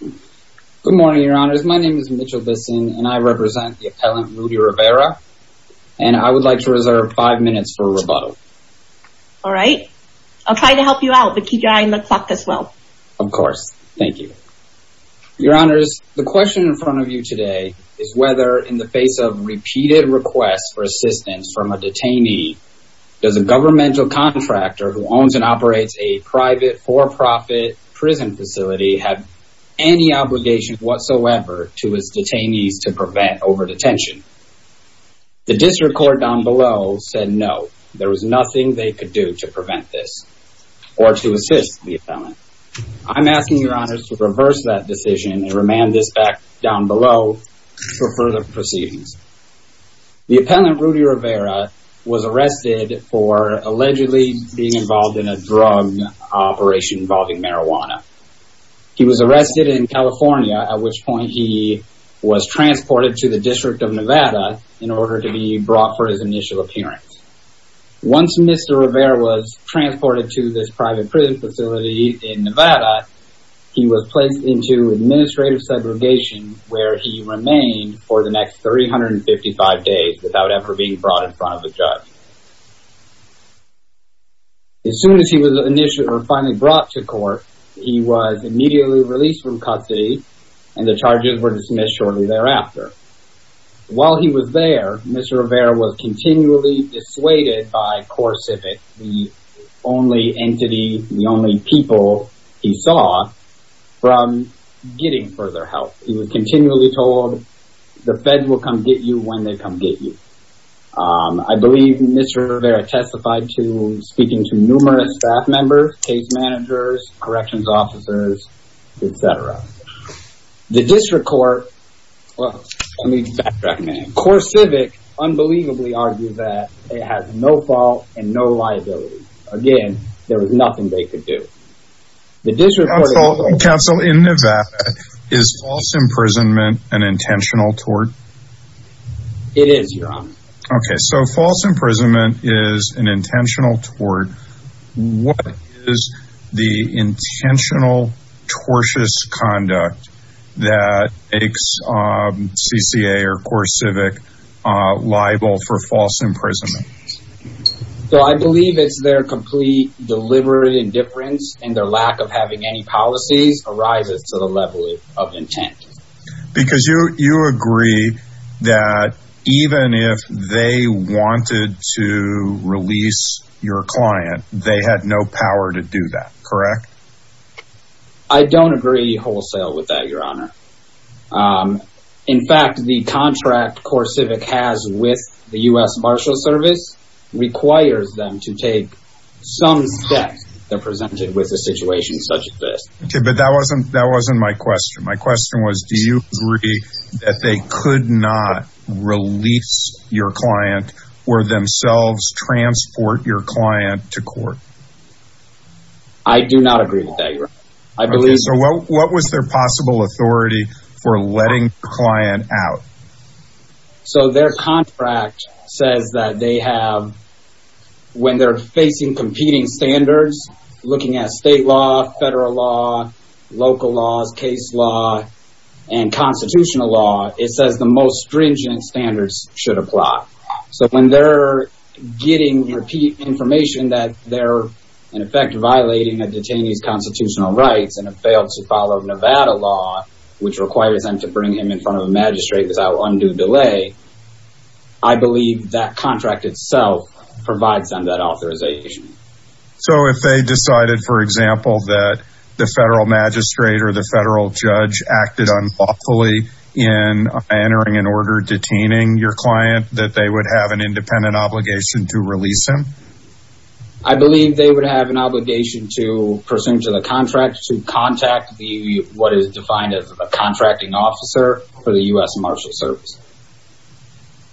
Good morning, your honors. My name is Mitchell Bisson, and I represent the appellant Rudy Rivera, and I would like to reserve five minutes for rebuttal. All right. I'll try to help you out, but keep your eye on the clock as well. Of course. Thank you. Your honors, the question in front of you today is whether, in the face of repeated requests for assistance from a detainee, does a governmental contractor who has any obligation whatsoever to his detainees to prevent over-detention? The district court down below said no. There was nothing they could do to prevent this or to assist the appellant. I'm asking your honors to reverse that decision and remand this back down below for further proceedings. The appellant Rudy Rivera was arrested for allegedly being involved in a drug operation involving marijuana. He was arrested in California, at which point he was transported to the District of Nevada in order to be brought for his initial appearance. Once Mr. Rivera was transported to this private prison facility in Nevada, he was placed into administrative segregation where he remained for the next 355 days without ever being brought in front of a judge. As soon as he was initially or finally brought to court, he was immediately released from custody and the charges were dismissed shortly thereafter. While he was there, Mr. Rivera was continually dissuaded by CoreCivic, the only entity, the only people he saw, from getting further help. He was continually told, the feds will come get you when they come get you. I believe Mr. Rivera testified to speaking to numerous staff members, case managers, corrections officers, etc. The District Court, well let me backtrack a minute, CoreCivic unbelievably argued that it has no fault and no liability. Again, there was nothing they could do. The District Court- Counsel, in Nevada, is false imprisonment an intentional tort? It is, Your Honor. Okay, so false imprisonment is an intentional tort. What is the intentional tortious conduct that makes CCA or CoreCivic liable for false imprisonment? So I believe it's their complete deliberate indifference and their lack of having any policies arises to the level of intent. Because you agree that even if they wanted to release your client, they had no power to do that, correct? I don't agree wholesale with that, Your Honor. In fact, the contract CoreCivic has with the U.S. Marshals Service requires them to take some steps to present it with a situation such as this. Okay, but that wasn't my question. My question was, do you agree that they could not release your client or themselves transport your client to court? I do not agree with that, Your Honor. Okay, so what was their possible authority for letting the client out? So their contract says that they have, when they're facing competing standards, looking at state law, federal law, local laws, case law, and constitutional law, it says the most stringent standards should apply. So when they're getting repeat information that they're in effect violating a detainee's constitutional rights and have failed to follow Nevada law, which requires them to bring him in front of a magistrate without undue delay, I believe that contract itself provides them that authorization. So if they decided, for example, that the federal magistrate or the federal judge acted unlawfully in entering an order detaining your client, that they would have an independent obligation to release him? I believe they would have an obligation to, pursuant to the contract, to contact what is defined as a contracting officer for the U.S. Marshals Service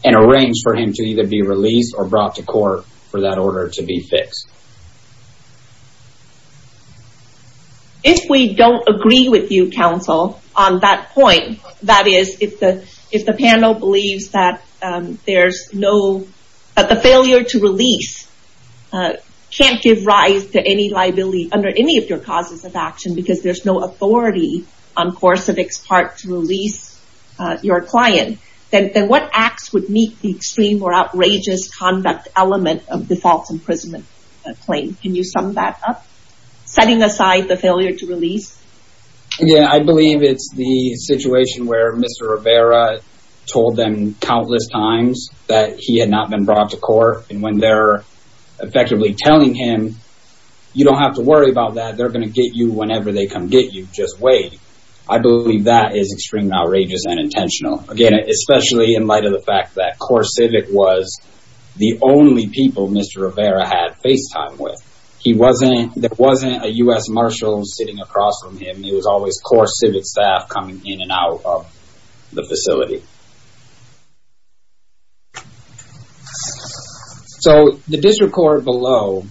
and arrange for him to either be released or brought to court for that order to be fixed. If we don't agree with you, counsel, on that point, that is, if the panel believes that the failure to release can't give rise to any liability under any of your causes of action because there's no authority on Korsavik's part to release your client, then what acts would meet the extreme or outrageous conduct element of the false imprisonment claim? Can you sum that up, setting aside the failure to release? Yeah, I believe it's the situation where Mr. Rivera told them countless times that he had not been brought to court, and when they're effectively telling him, you don't have to worry about that, they're going to get you whenever they come get you, just wait. I believe that is extremely outrageous and intentional, again, especially in light of the fact that Korsavik was the only people Mr. Rivera had face time with. He wasn't, there wasn't a U.S. Marshal sitting across from him, it was always Korsavik staff coming in and out of the facility. So the district court below,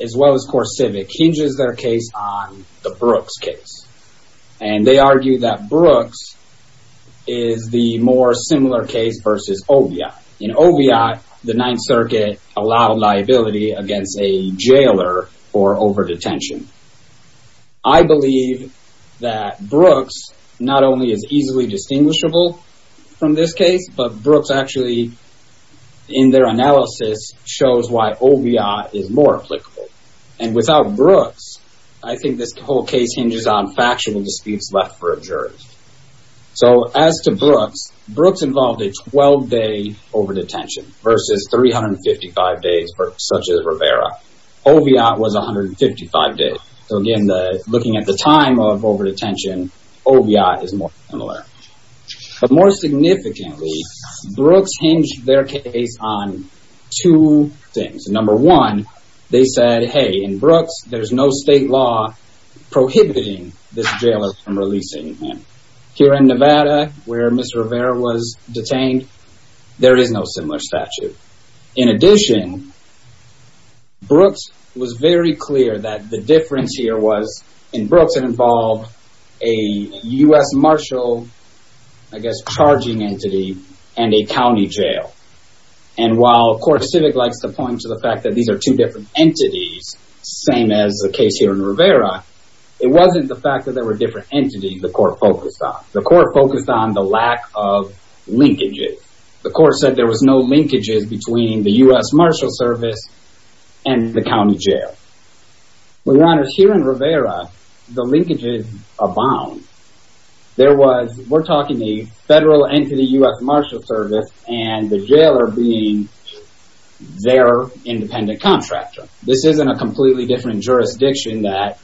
as well as Korsavik, hinges their case on the Brooks case. And they argue that Brooks is the more similar case versus Oviatt. In Oviatt, the Ninth Circuit allowed liability against a jailer for over-detention. I believe that Brooks not only is easily distinguishable from this case, but Brooks actually, in their analysis, shows why Oviatt is more applicable. And without Brooks, I think this whole case hinges on factual disputes left for a jury. So as to Brooks, Brooks involved a 12-day over-detention versus 355 days for such as Rivera. Oviatt was 155 days, so again, looking at the time of over-detention, Oviatt is more similar. But more significantly, Brooks hinged their case on two things. Number one, they said, hey, in Brooks, there's no state law prohibiting this jailer from releasing him. Here in Nevada, where Ms. Rivera was detained, there is no similar statute. In addition, Brooks was very clear that the difference here was, in Brooks it involved a U.S. Marshal, I guess, charging entity and a county jail. And while Court Civic likes to point to the fact that these are two different entities, same as the case here in Rivera, it wasn't the fact that there were different entities the court focused on. The court focused on the lack of linkages. The court said there was no linkages between the U.S. Marshal Service and the county jail. We learned here in Rivera, the linkages abound. There was, we're talking a federal entity, U.S. Marshal Service, and the jailer being their independent contractor. This isn't a completely different jurisdiction that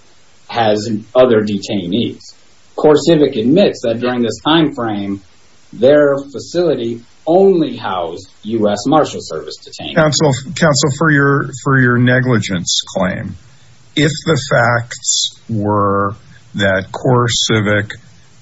has other detainees. Court Civic admits that during this time frame, their facility only housed U.S. Marshal Service detainees. Counsel, for your negligence claim, if the facts were that Court Civic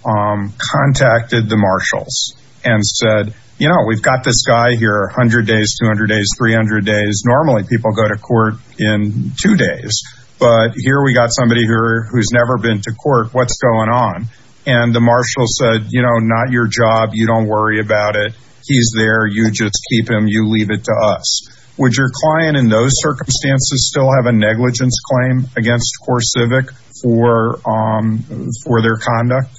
contacted the marshals and said, you know, we've got this guy here 100 days, 200 days, 300 days, normally people go to court in two days, but here we got somebody who's never been to court, what's going on? And the marshal said, you know, not your job, you don't worry about it, he's there, you just keep him, you leave it to us. Would your client in those circumstances still have a negligence claim against Court Civic for their conduct?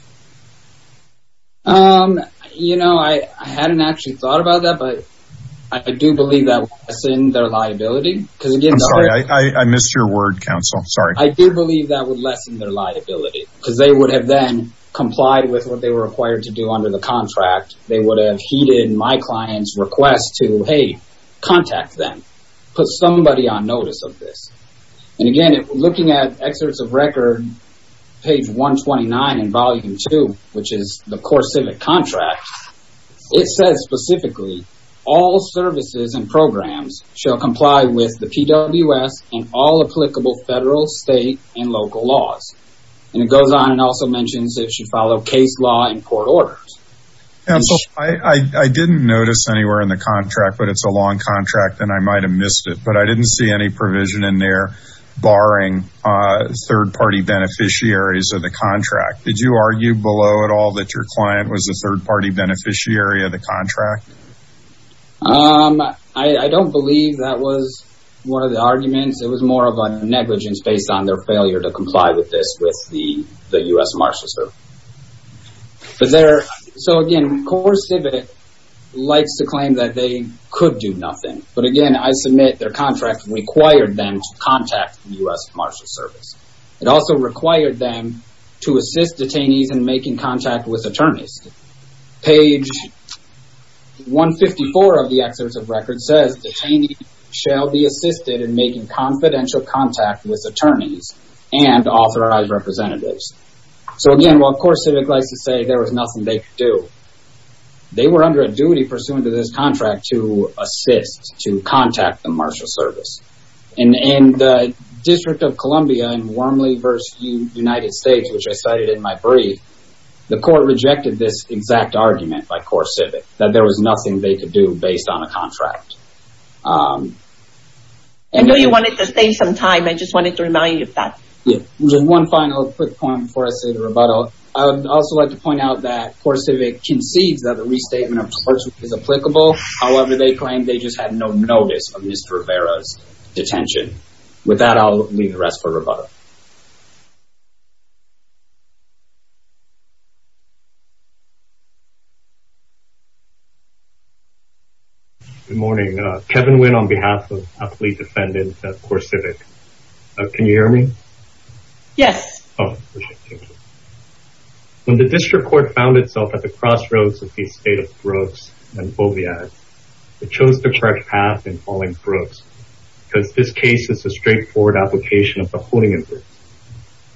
You know, I hadn't actually thought about that, but I do believe that would lessen their liability. I'm sorry, I missed your word, counsel, sorry. I do believe that would lessen their liability because they would have then complied with what they were required to do under the contract. They would have heeded my client's request to, hey, contact them, put somebody on notice of this. And again, looking at excerpts of record, page 129 in volume two, which is the Court Civic contract, it says specifically, all services and programs shall comply with the PWS and all applicable federal, state, and local laws. And it goes on and also mentions it should follow case law and court orders. Counsel, I didn't notice anywhere in the contract, but it's a long contract and I might have missed it, but I didn't see any provision in there barring third-party beneficiaries of the contract. Did you argue below at all that your client was a third-party beneficiary of the contract? I don't believe that was one of the arguments. It was more of a negligence based on their failure to comply with this with the US Marshals Procedure. So again, Court Civic likes to claim that they could do nothing, but again, I submit their contract required them to contact the US Marshals Service. It also required them to assist detainees in making contact with attorneys. Page 154 of the excerpts of record says, detainees shall be assisted in making confidential contact with attorneys and authorized representatives. So again, while Court Civic likes to say there was nothing they could do, they were under a duty pursuant to this contract to assist, to contact the Marshals Service. In the District of Columbia in Wormley v. United States, which I cited in my brief, the court rejected this exact argument by Court Civic, that there was nothing they could do based on a contract. I know you wanted to stay some time. I just wanted to remind you of that. Just one final quick point before I say the rebuttal. I would also like to point out that Court Civic concedes that the restatement of courts is applicable. However, they claim they just had no notice of Mr. Rivera's detention. With that, I'll leave the rest for rebuttal. Good morning. Kevin Nguyen on behalf of a police defendant at Court Civic. Can you hear me? Yes. When the District Court found itself at the crossroads of the estate of Brooks and Fovead, it chose the correct path in calling Brooks, because this case is a straightforward application of the Hoonigan Group.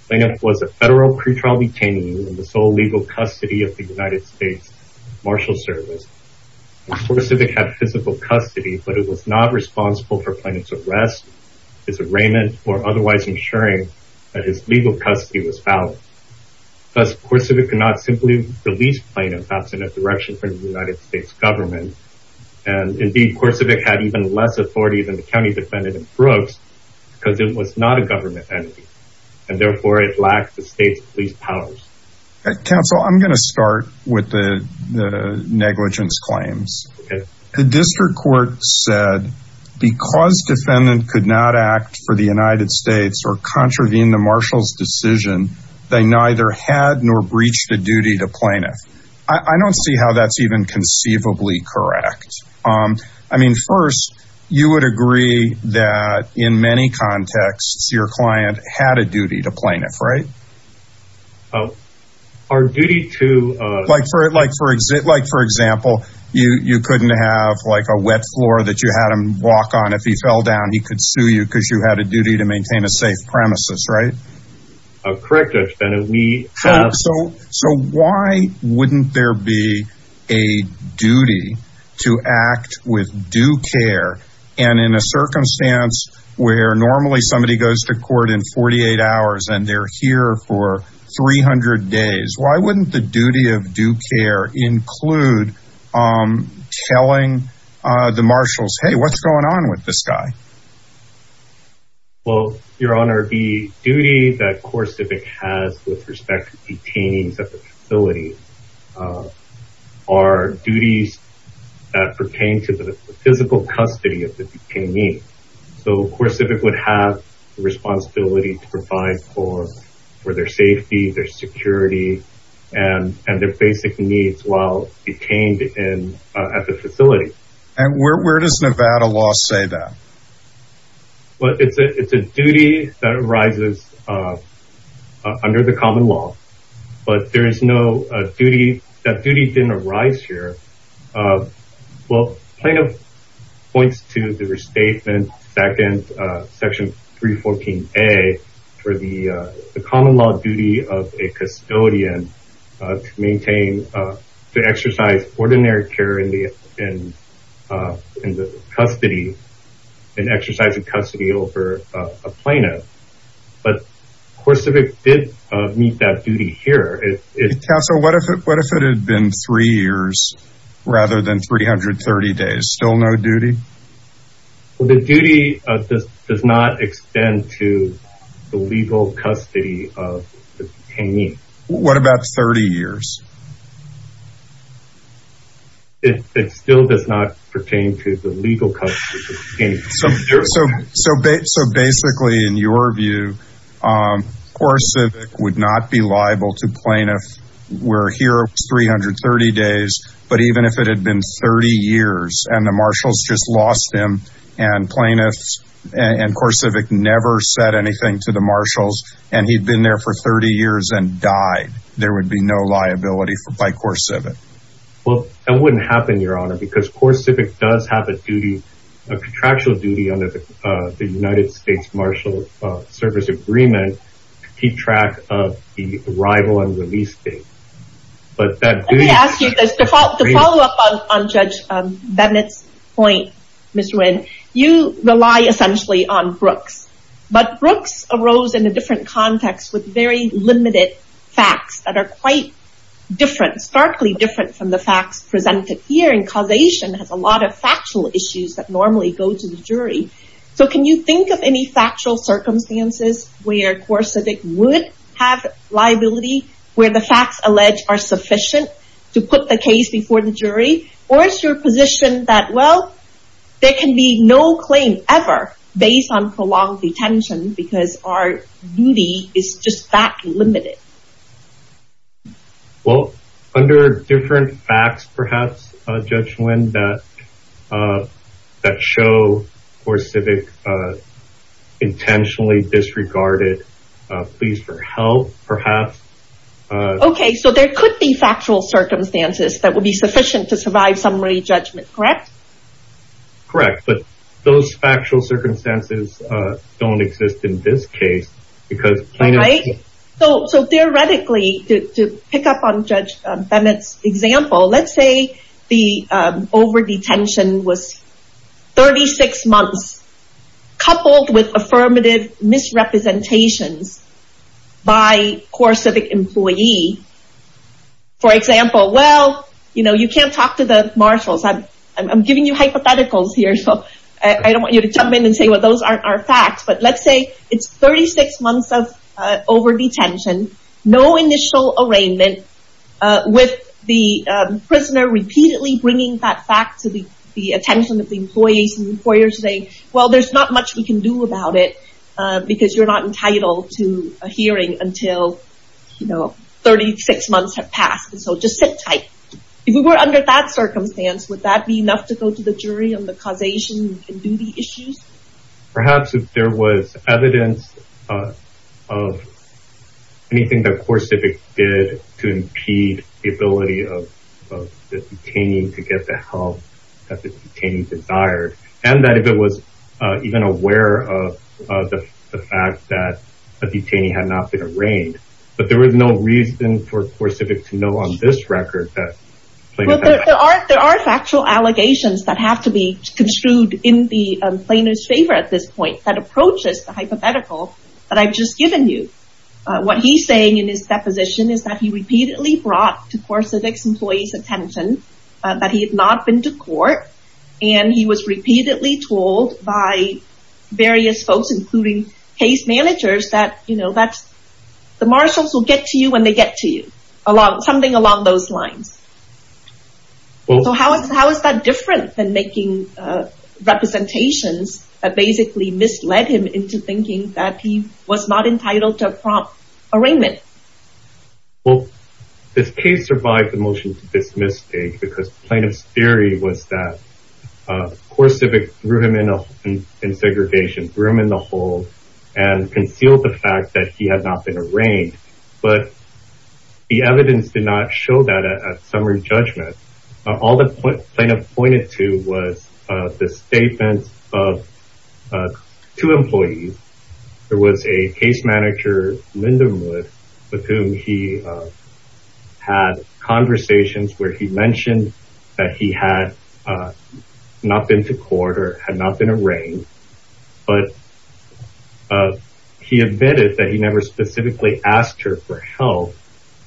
Planoff was a federal pretrial detainee in the sole legal custody of the United States Marshals Service. Court Civic had physical custody, but it was not responsible for Planoff's arrest. His arraignment or otherwise ensuring that his legal custody was valid. Thus, Court Civic could not simply release Planoff absent a direction from the United States government. And indeed, Court Civic had even less authority than the county defendant in Brooks because it was not a government entity. And therefore, it lacked the state's police powers. Counsel, I'm going to start with the negligence claims. The District Court said, because defendant could not act for the United States or contravene the Marshal's decision, they neither had nor breached the duty to Planoff. I don't see how that's even conceivably correct. I mean, first, you would agree that in many contexts, your client had a duty to Planoff, right? Our duty to... Like for example, you couldn't have like a wet floor that you had him walk on. If he fell down, he could sue you because you had a duty to maintain a safe premises, right? Correct, Your Honor. So why wouldn't there be a duty to act with due care? And in a circumstance where normally somebody goes to court in 48 hours and they're here for 300 days, why wouldn't the duty of due care include telling the Marshals, hey, what's going on with this guy? Well, Your Honor, the duty that CoreCivic has with respect to detainees at the facility are duties that pertain to the physical custody of the detainee. So CoreCivic would have the responsibility to provide for their safety, their security and their basic needs while detained at the facility. And where does Nevada law say that? Well, it's a duty that arises under the common law, but there is no duty... That duty didn't arise here. Well, plaintiff points to the restatement, section 314A for the common law duty of a custodian to maintain, to exercise ordinary care in the custody and exercise of custody over a plaintiff. But CoreCivic did meet that duty here. Counsel, what if it had been three years rather than 330 days? Still no duty? The duty does not extend to the legal custody of the detainee. What about 30 years? It still does not pertain to the legal custody of the detainee. So basically, in your view, CoreCivic would not be liable to plaintiff where here 330 days, but even if it had been 30 years and the marshals just lost him and plaintiffs and CoreCivic never said anything to the marshals and he'd been there for 30 years and died, there would be no liability by CoreCivic. Well, that wouldn't happen, Your Honor, because CoreCivic does have a duty, a contractual duty under the United States Marshal Service Agreement to keep track of the arrival and release date. But that duty... Let me ask you this. To follow up on Judge Bennett's point, Mr. Wynn, you rely essentially on Brooks. But Brooks arose in a different context with very limited facts that are quite different, but starkly different from the facts presented here and causation has a lot of factual issues that normally go to the jury. So can you think of any factual circumstances where CoreCivic would have liability, where the facts alleged are sufficient to put the case before the jury? Or is your position that, well, there can be no claim ever based on prolonged detention because our duty is just that limited? Well, under different facts, perhaps, Judge Wynn, that show CoreCivic intentionally disregarded pleas for help, perhaps. Okay. So there could be factual circumstances that would be sufficient to survive summary judgment, correct? Correct. But those factual circumstances don't exist in this case because plaintiff... Right? So theoretically, to pick up on Judge Bennett's example, let's say the overdetention was 36 months coupled with affirmative misrepresentations by CoreCivic employee. For example, well, you can't talk to the marshals. I'm giving you hypotheticals here, so I don't want you to jump in and say, well, those aren't our facts. But let's say it's 36 months of overdetention, no initial arraignment with the prisoner repeatedly bringing that fact to the attention of the employees. And the employers say, well, there's not much we can do about it because you're not entitled to a hearing until 36 months have passed. And so just sit tight. If we were under that circumstance, would that be enough to go to the jury on the causation and duty issues? Perhaps if there was evidence of anything that CoreCivic did to impede the ability of the detainee to get the help that the detainee desired. And that if it was even aware of the fact that a detainee had not been arraigned. But there was no reason for CoreCivic to know on this record that... There are factual allegations that have to be construed in the plaintiff's favor at this point that approaches the hypothetical that I've just given you. What he's saying in his deposition is that he repeatedly brought to CoreCivic's employees' attention that he had not been to court. And he was repeatedly told by various folks, including case managers, that the marshals will get to you when they get to you. Something along those lines. So how is that different than making representations that basically misled him into thinking that he was not entitled to a prompt arraignment? Well, this case survived the motion to dismiss the case because the plaintiff's theory was that CoreCivic threw him in segregation, threw him in the hole, and concealed the fact that he had not been arraigned. But the evidence did not show that at summary judgment. All the plaintiff pointed to was the statement of two employees. There was a case manager, Linda Mood, with whom he had conversations where he mentioned that he had not been to court or had not been arraigned. But he admitted that he never specifically asked her for help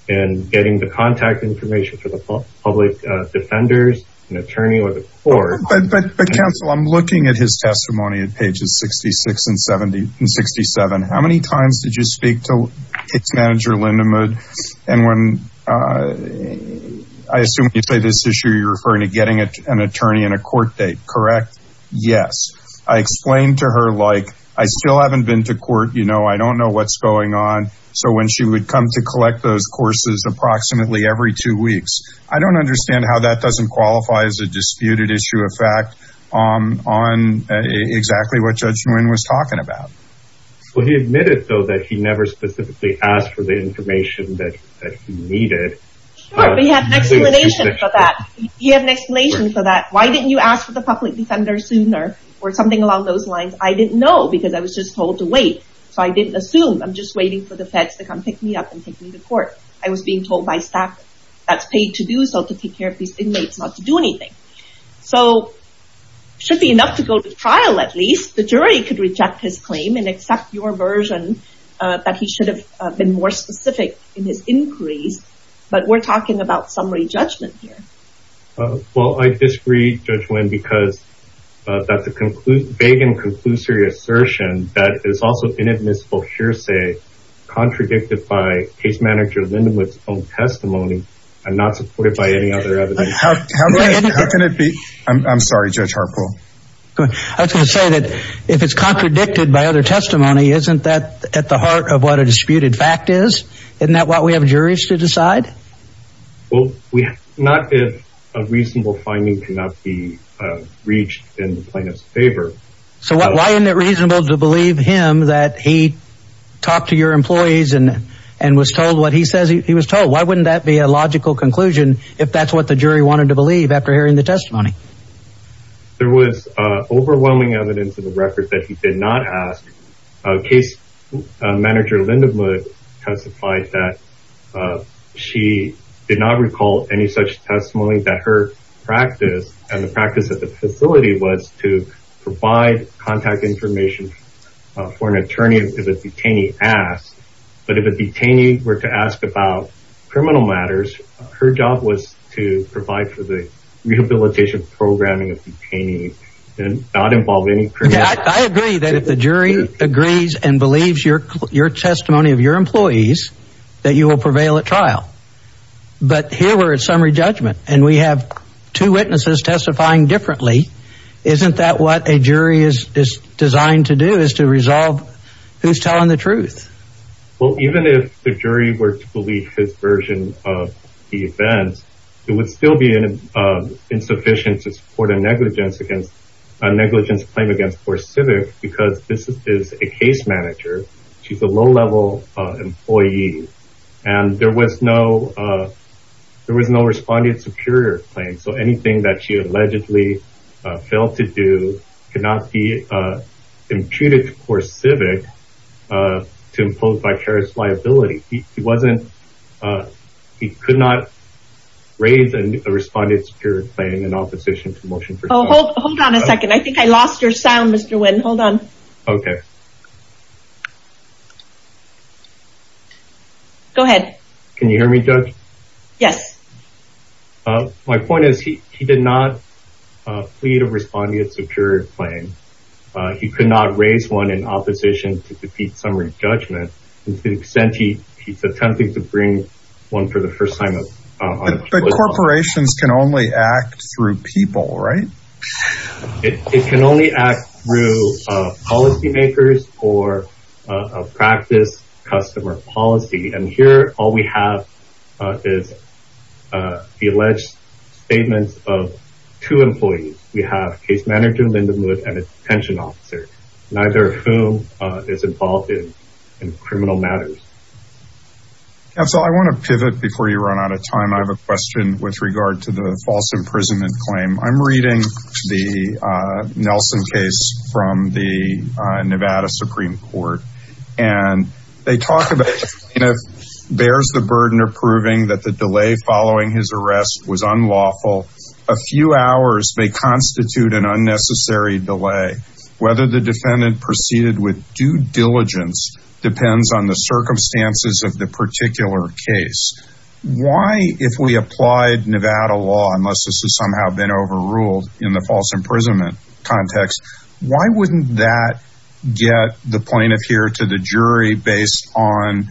in getting the contact information for the public defenders, an attorney, or the court. But counsel, I'm looking at his testimony at pages 66 and 67. How many times did you speak to case manager Linda Mood? And when, I assume when you say this issue, you're referring to getting an attorney and a court date, correct? Yes. I explained to her, like, I still haven't been to court. You know, I don't know what's going on. So when she would come to collect those courses approximately every two weeks. I don't understand how that doesn't qualify as a disputed issue of fact on exactly what Judge Nguyen was talking about. Well, he admitted, though, that he never specifically asked for the information that he needed. Sure, but you have an explanation for that. You have an explanation for that. Why didn't you ask for the public defender sooner? Or something along those lines. I didn't know because I was just told to wait. So I didn't assume. I'm just waiting for the feds to come pick me up and take me to court. I was being told by staff that's paid to do so, to take care of these inmates, not to do anything. So, should be enough to go to trial at least. The jury could reject his claim and accept your version that he should have been more specific in his inquiries. But we're talking about summary judgment here. Well, I disagree, Judge Nguyen, because that's a vague and conclusory assertion that is also inadmissible hearsay contradicted by case manager Lindenwood's own testimony and not supported by any other evidence. How can it be? I'm sorry, Judge Harpo. I was going to say that if it's contradicted by other testimony, isn't that at the heart of what a disputed fact is? Isn't that what we have juries to decide? Well, not if a reasonable finding cannot be reached in the plaintiff's favor. So why isn't it reasonable to believe him that he talked to your employees and was told what he says he was told? Why wouldn't that be a logical conclusion if that's what the jury wanted to believe after hearing the testimony? There was overwhelming evidence in the record that he did not ask. Case manager Lindenwood testified that she did not recall any such testimony that her practice and the practice of the facility was to provide contact information for an attorney if a detainee asked. But if a detainee were to ask about criminal matters, her job was to provide for the rehabilitation programming of detainees and not involve any criminal. I agree that if the jury agrees and believes your testimony of your employees, that you will prevail at trial. But here we're at summary judgment and we have two witnesses testifying differently. Isn't that what a jury is designed to do, is to resolve who's telling the truth? Well, even if the jury were to believe his version of the events, it would still be insufficient to support a negligence against a negligence claim against CoreCivic because this is a case manager. She's a low-level employee and there was no there was no respondent superior claim. So anything that she allegedly failed to do could not be imputed to CoreCivic to impose vicarious liability. He could not raise a respondent superior claim in opposition to motion for trial. Hold on a second. I think I lost your sound, Mr. Nguyen. Hold on. Go ahead. Can you hear me, Judge? Yes. My point is he did not plead a respondent superior claim. He could not raise one in opposition to defeat summary judgment to the extent he attempted to bring one for the first time. But corporations can only act through people, right? It can only act through policymakers or a practice customer policy. And here all we have is the alleged statements of two employees. We have case manager Linda Mood and a detention officer, neither of whom is involved in criminal matters. Counsel, I want to pivot before you run out of time. I have a question with regard to the false imprisonment claim. I'm reading the Nelson case from the Nevada Supreme Court. And they talk about, you know, bears the burden of proving that the delay following his arrest was unlawful. A few hours may constitute an unnecessary delay. Whether the defendant proceeded with due diligence depends on the circumstances of the particular case. Why, if we applied Nevada law, unless this has somehow been overruled in the false imprisonment context, why wouldn't that get the plaintiff here to the jury based on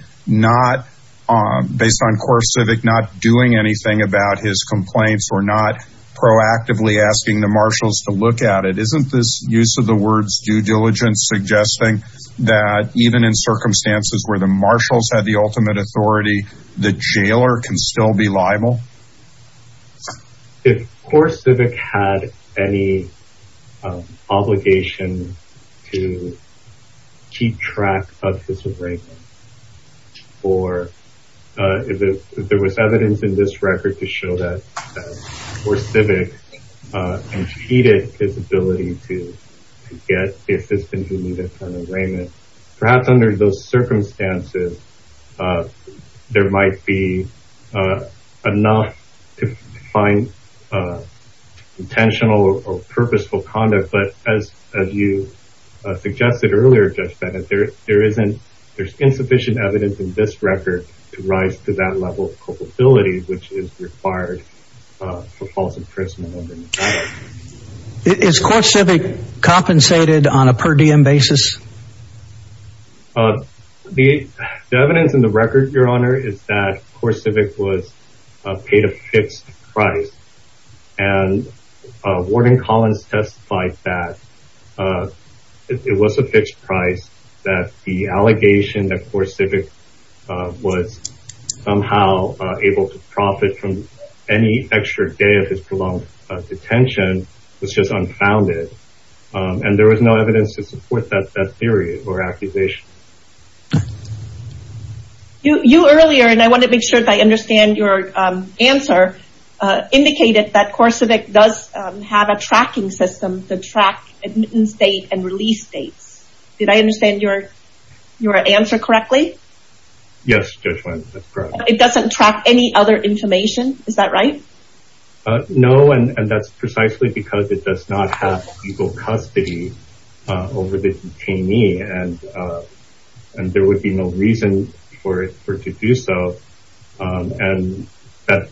core civic not doing anything about his complaints or not proactively asking the marshals to look at it? Isn't this use of the words due diligence suggesting that even in circumstances where the marshals had the ultimate authority, the jailer can still be liable? If core civic had any obligation to keep track of his arraignment or if there was evidence in this record to show that core civic impeded his ability to get the assistance he needed for an arraignment, perhaps under those circumstances, there might be enough to find intentional or purposeful conduct. But as you suggested earlier, Judge Bennett, there's insufficient evidence in this record to rise to that level of culpability which is required for false imprisonment. Is core civic compensated on a per diem basis? The evidence in the record, Your Honor, is that core civic was paid a fixed price and Warden Collins testified that it was a fixed price that the allegation that core civic was somehow able to profit from any extra day of his prolonged detention was just unfounded. And there was no evidence to support that theory or accusation. You earlier, and I want to make sure that I understand your answer, indicated that core civic does have a tracking system to track admittance dates and release dates. Did I understand your answer correctly? Yes, Judge Flynn, that's correct. It doesn't track any other information, is that right? No, and that's precisely because it does not have legal custody over the detainee and there would be no reason for it to do so. And that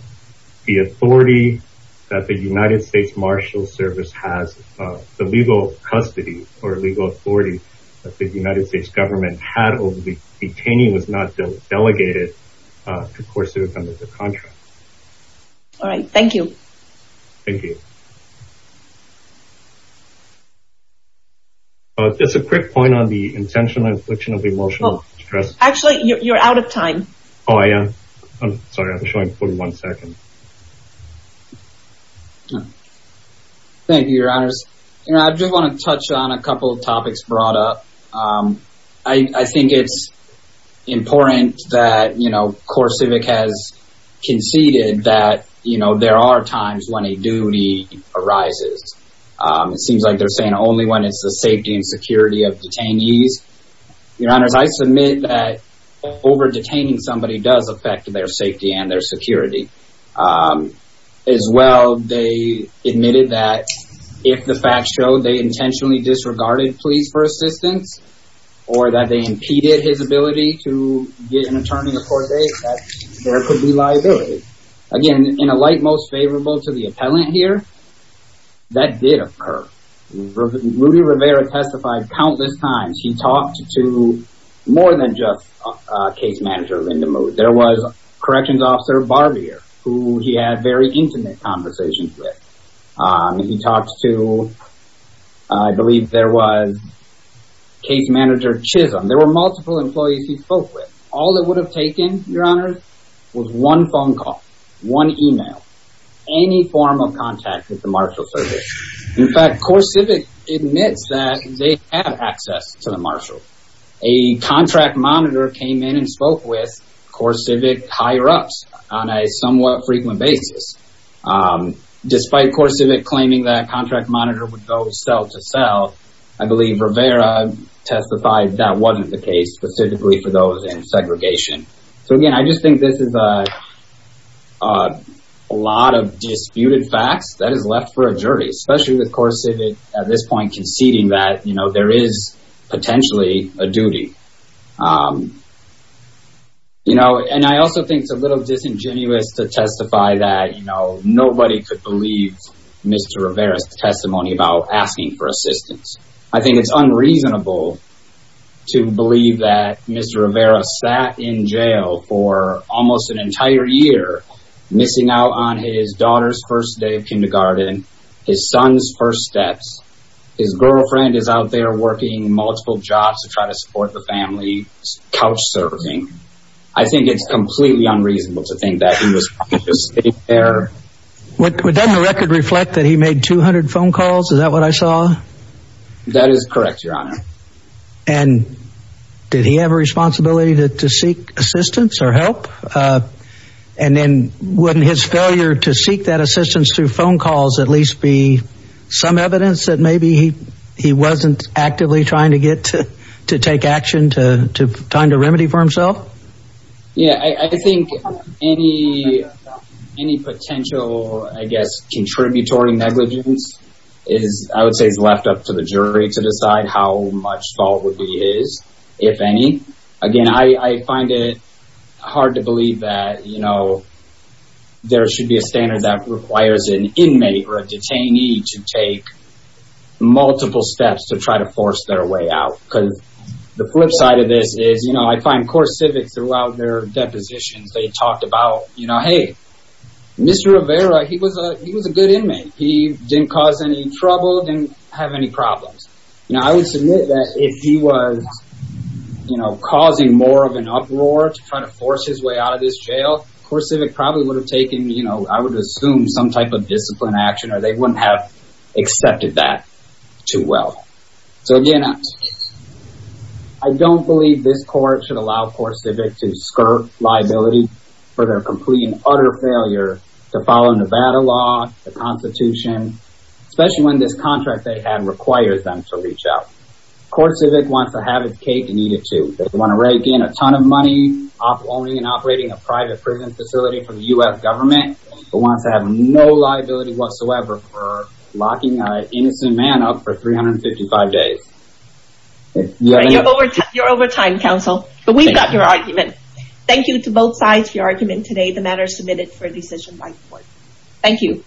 the authority that the United States Marshal Service has, the legal custody or legal authority that the United States government had over the detainee was not delegated to core civic under the contract. All right, thank you. Thank you. Just a quick point on the intentional infliction of emotional stress. Actually, you're out of time. Oh, I am? Sorry, I'm showing 41 seconds. Thank you, Your Honors. I just want to touch on a couple of topics brought up. I think it's important that, you know, core civic has conceded that, you know, there are times when a duty arises. It seems like they're saying only when it's the safety and security of detainees. Your Honors, I submit that over-detaining somebody does affect their safety and their security. As well, they admitted that if the facts show they intentionally disregarded pleas for assistance or that they impeded his ability to get an attorney a court date, that there could be liability. Again, in a light most favorable to the appellant here, that did occur. Rudy Rivera testified countless times. He talked to more than just a case manager, Linda Mood. There was Corrections Officer Barbier who he had very intimate conversations with. He talked to, I believe there was case manager Chisholm. There were multiple employees he spoke with. All it would have taken, Your Honors, was one phone call, one email, any form of contact with the marshal service. In fact, core civic admits that they had access to the marshal. A contract monitor came in and spoke with core civic higher ups on a somewhat frequent basis. Despite core civic claiming that a contract monitor would go cell to cell, I believe Rivera testified that wasn't the case, specifically for those in segregation. So again, I just think this is a lot of disputed facts that is left for a jury, especially with core civic at this point conceding that there is potentially a duty. I also think it's a little disingenuous to testify that nobody could believe Mr. Rivera's testimony about asking for assistance. I think it's unreasonable to believe that Mr. Rivera sat in jail for almost an entire year, missing out on his daughter's first day of kindergarten, his son's first steps, his girlfriend is out there working multiple jobs to try to support the family, couch surfing. I think it's completely unreasonable to think that he was just sitting there. Doesn't the record reflect that he made 200 phone calls? Is that what I saw? That is correct, Your Honor. And did he have a responsibility to seek assistance or help? And then, wouldn't his failure to seek that assistance through phone calls at least be some evidence that maybe he wasn't actively trying to get to take action to remedy for himself? Yeah, I think any potential, I guess, contributory negligence is, I would say, left up to the jury to decide how much fault he is, if any. Again, I find it hard to believe that, you know, there should be a standard that requires an inmate or a detainee to take multiple steps to try to force their way out. Because the flip side of this is that, you know, in the case of Civic, throughout their depositions, they talked about, you know, hey, Mr. Rivera, he was a good inmate. He didn't cause any trouble, didn't have any problems. Now, I would submit that if he was, you know, causing more of an uproar to try to force his way out of this jail, poor Civic probably would have taken, you know, I would assume, some type of discipline action, or they wouldn't have accepted that too well. So, again, I don't believe this court should allow poor Civic to skirt liability for their complete and utter failure to follow Nevada law, the Constitution, especially when this contract they have requires them to reach out. Poor Civic wants to have its cake and eat it too. They want to rake in a ton of money owning and operating a private prison facility for the U.S. government but wants to have no liability whatsoever for locking an innocent man up for 355 days. You're over time, counsel. But we've got your argument. Thank you to both sides for your argument today. The matter is submitted for a decision by the court. Thank you.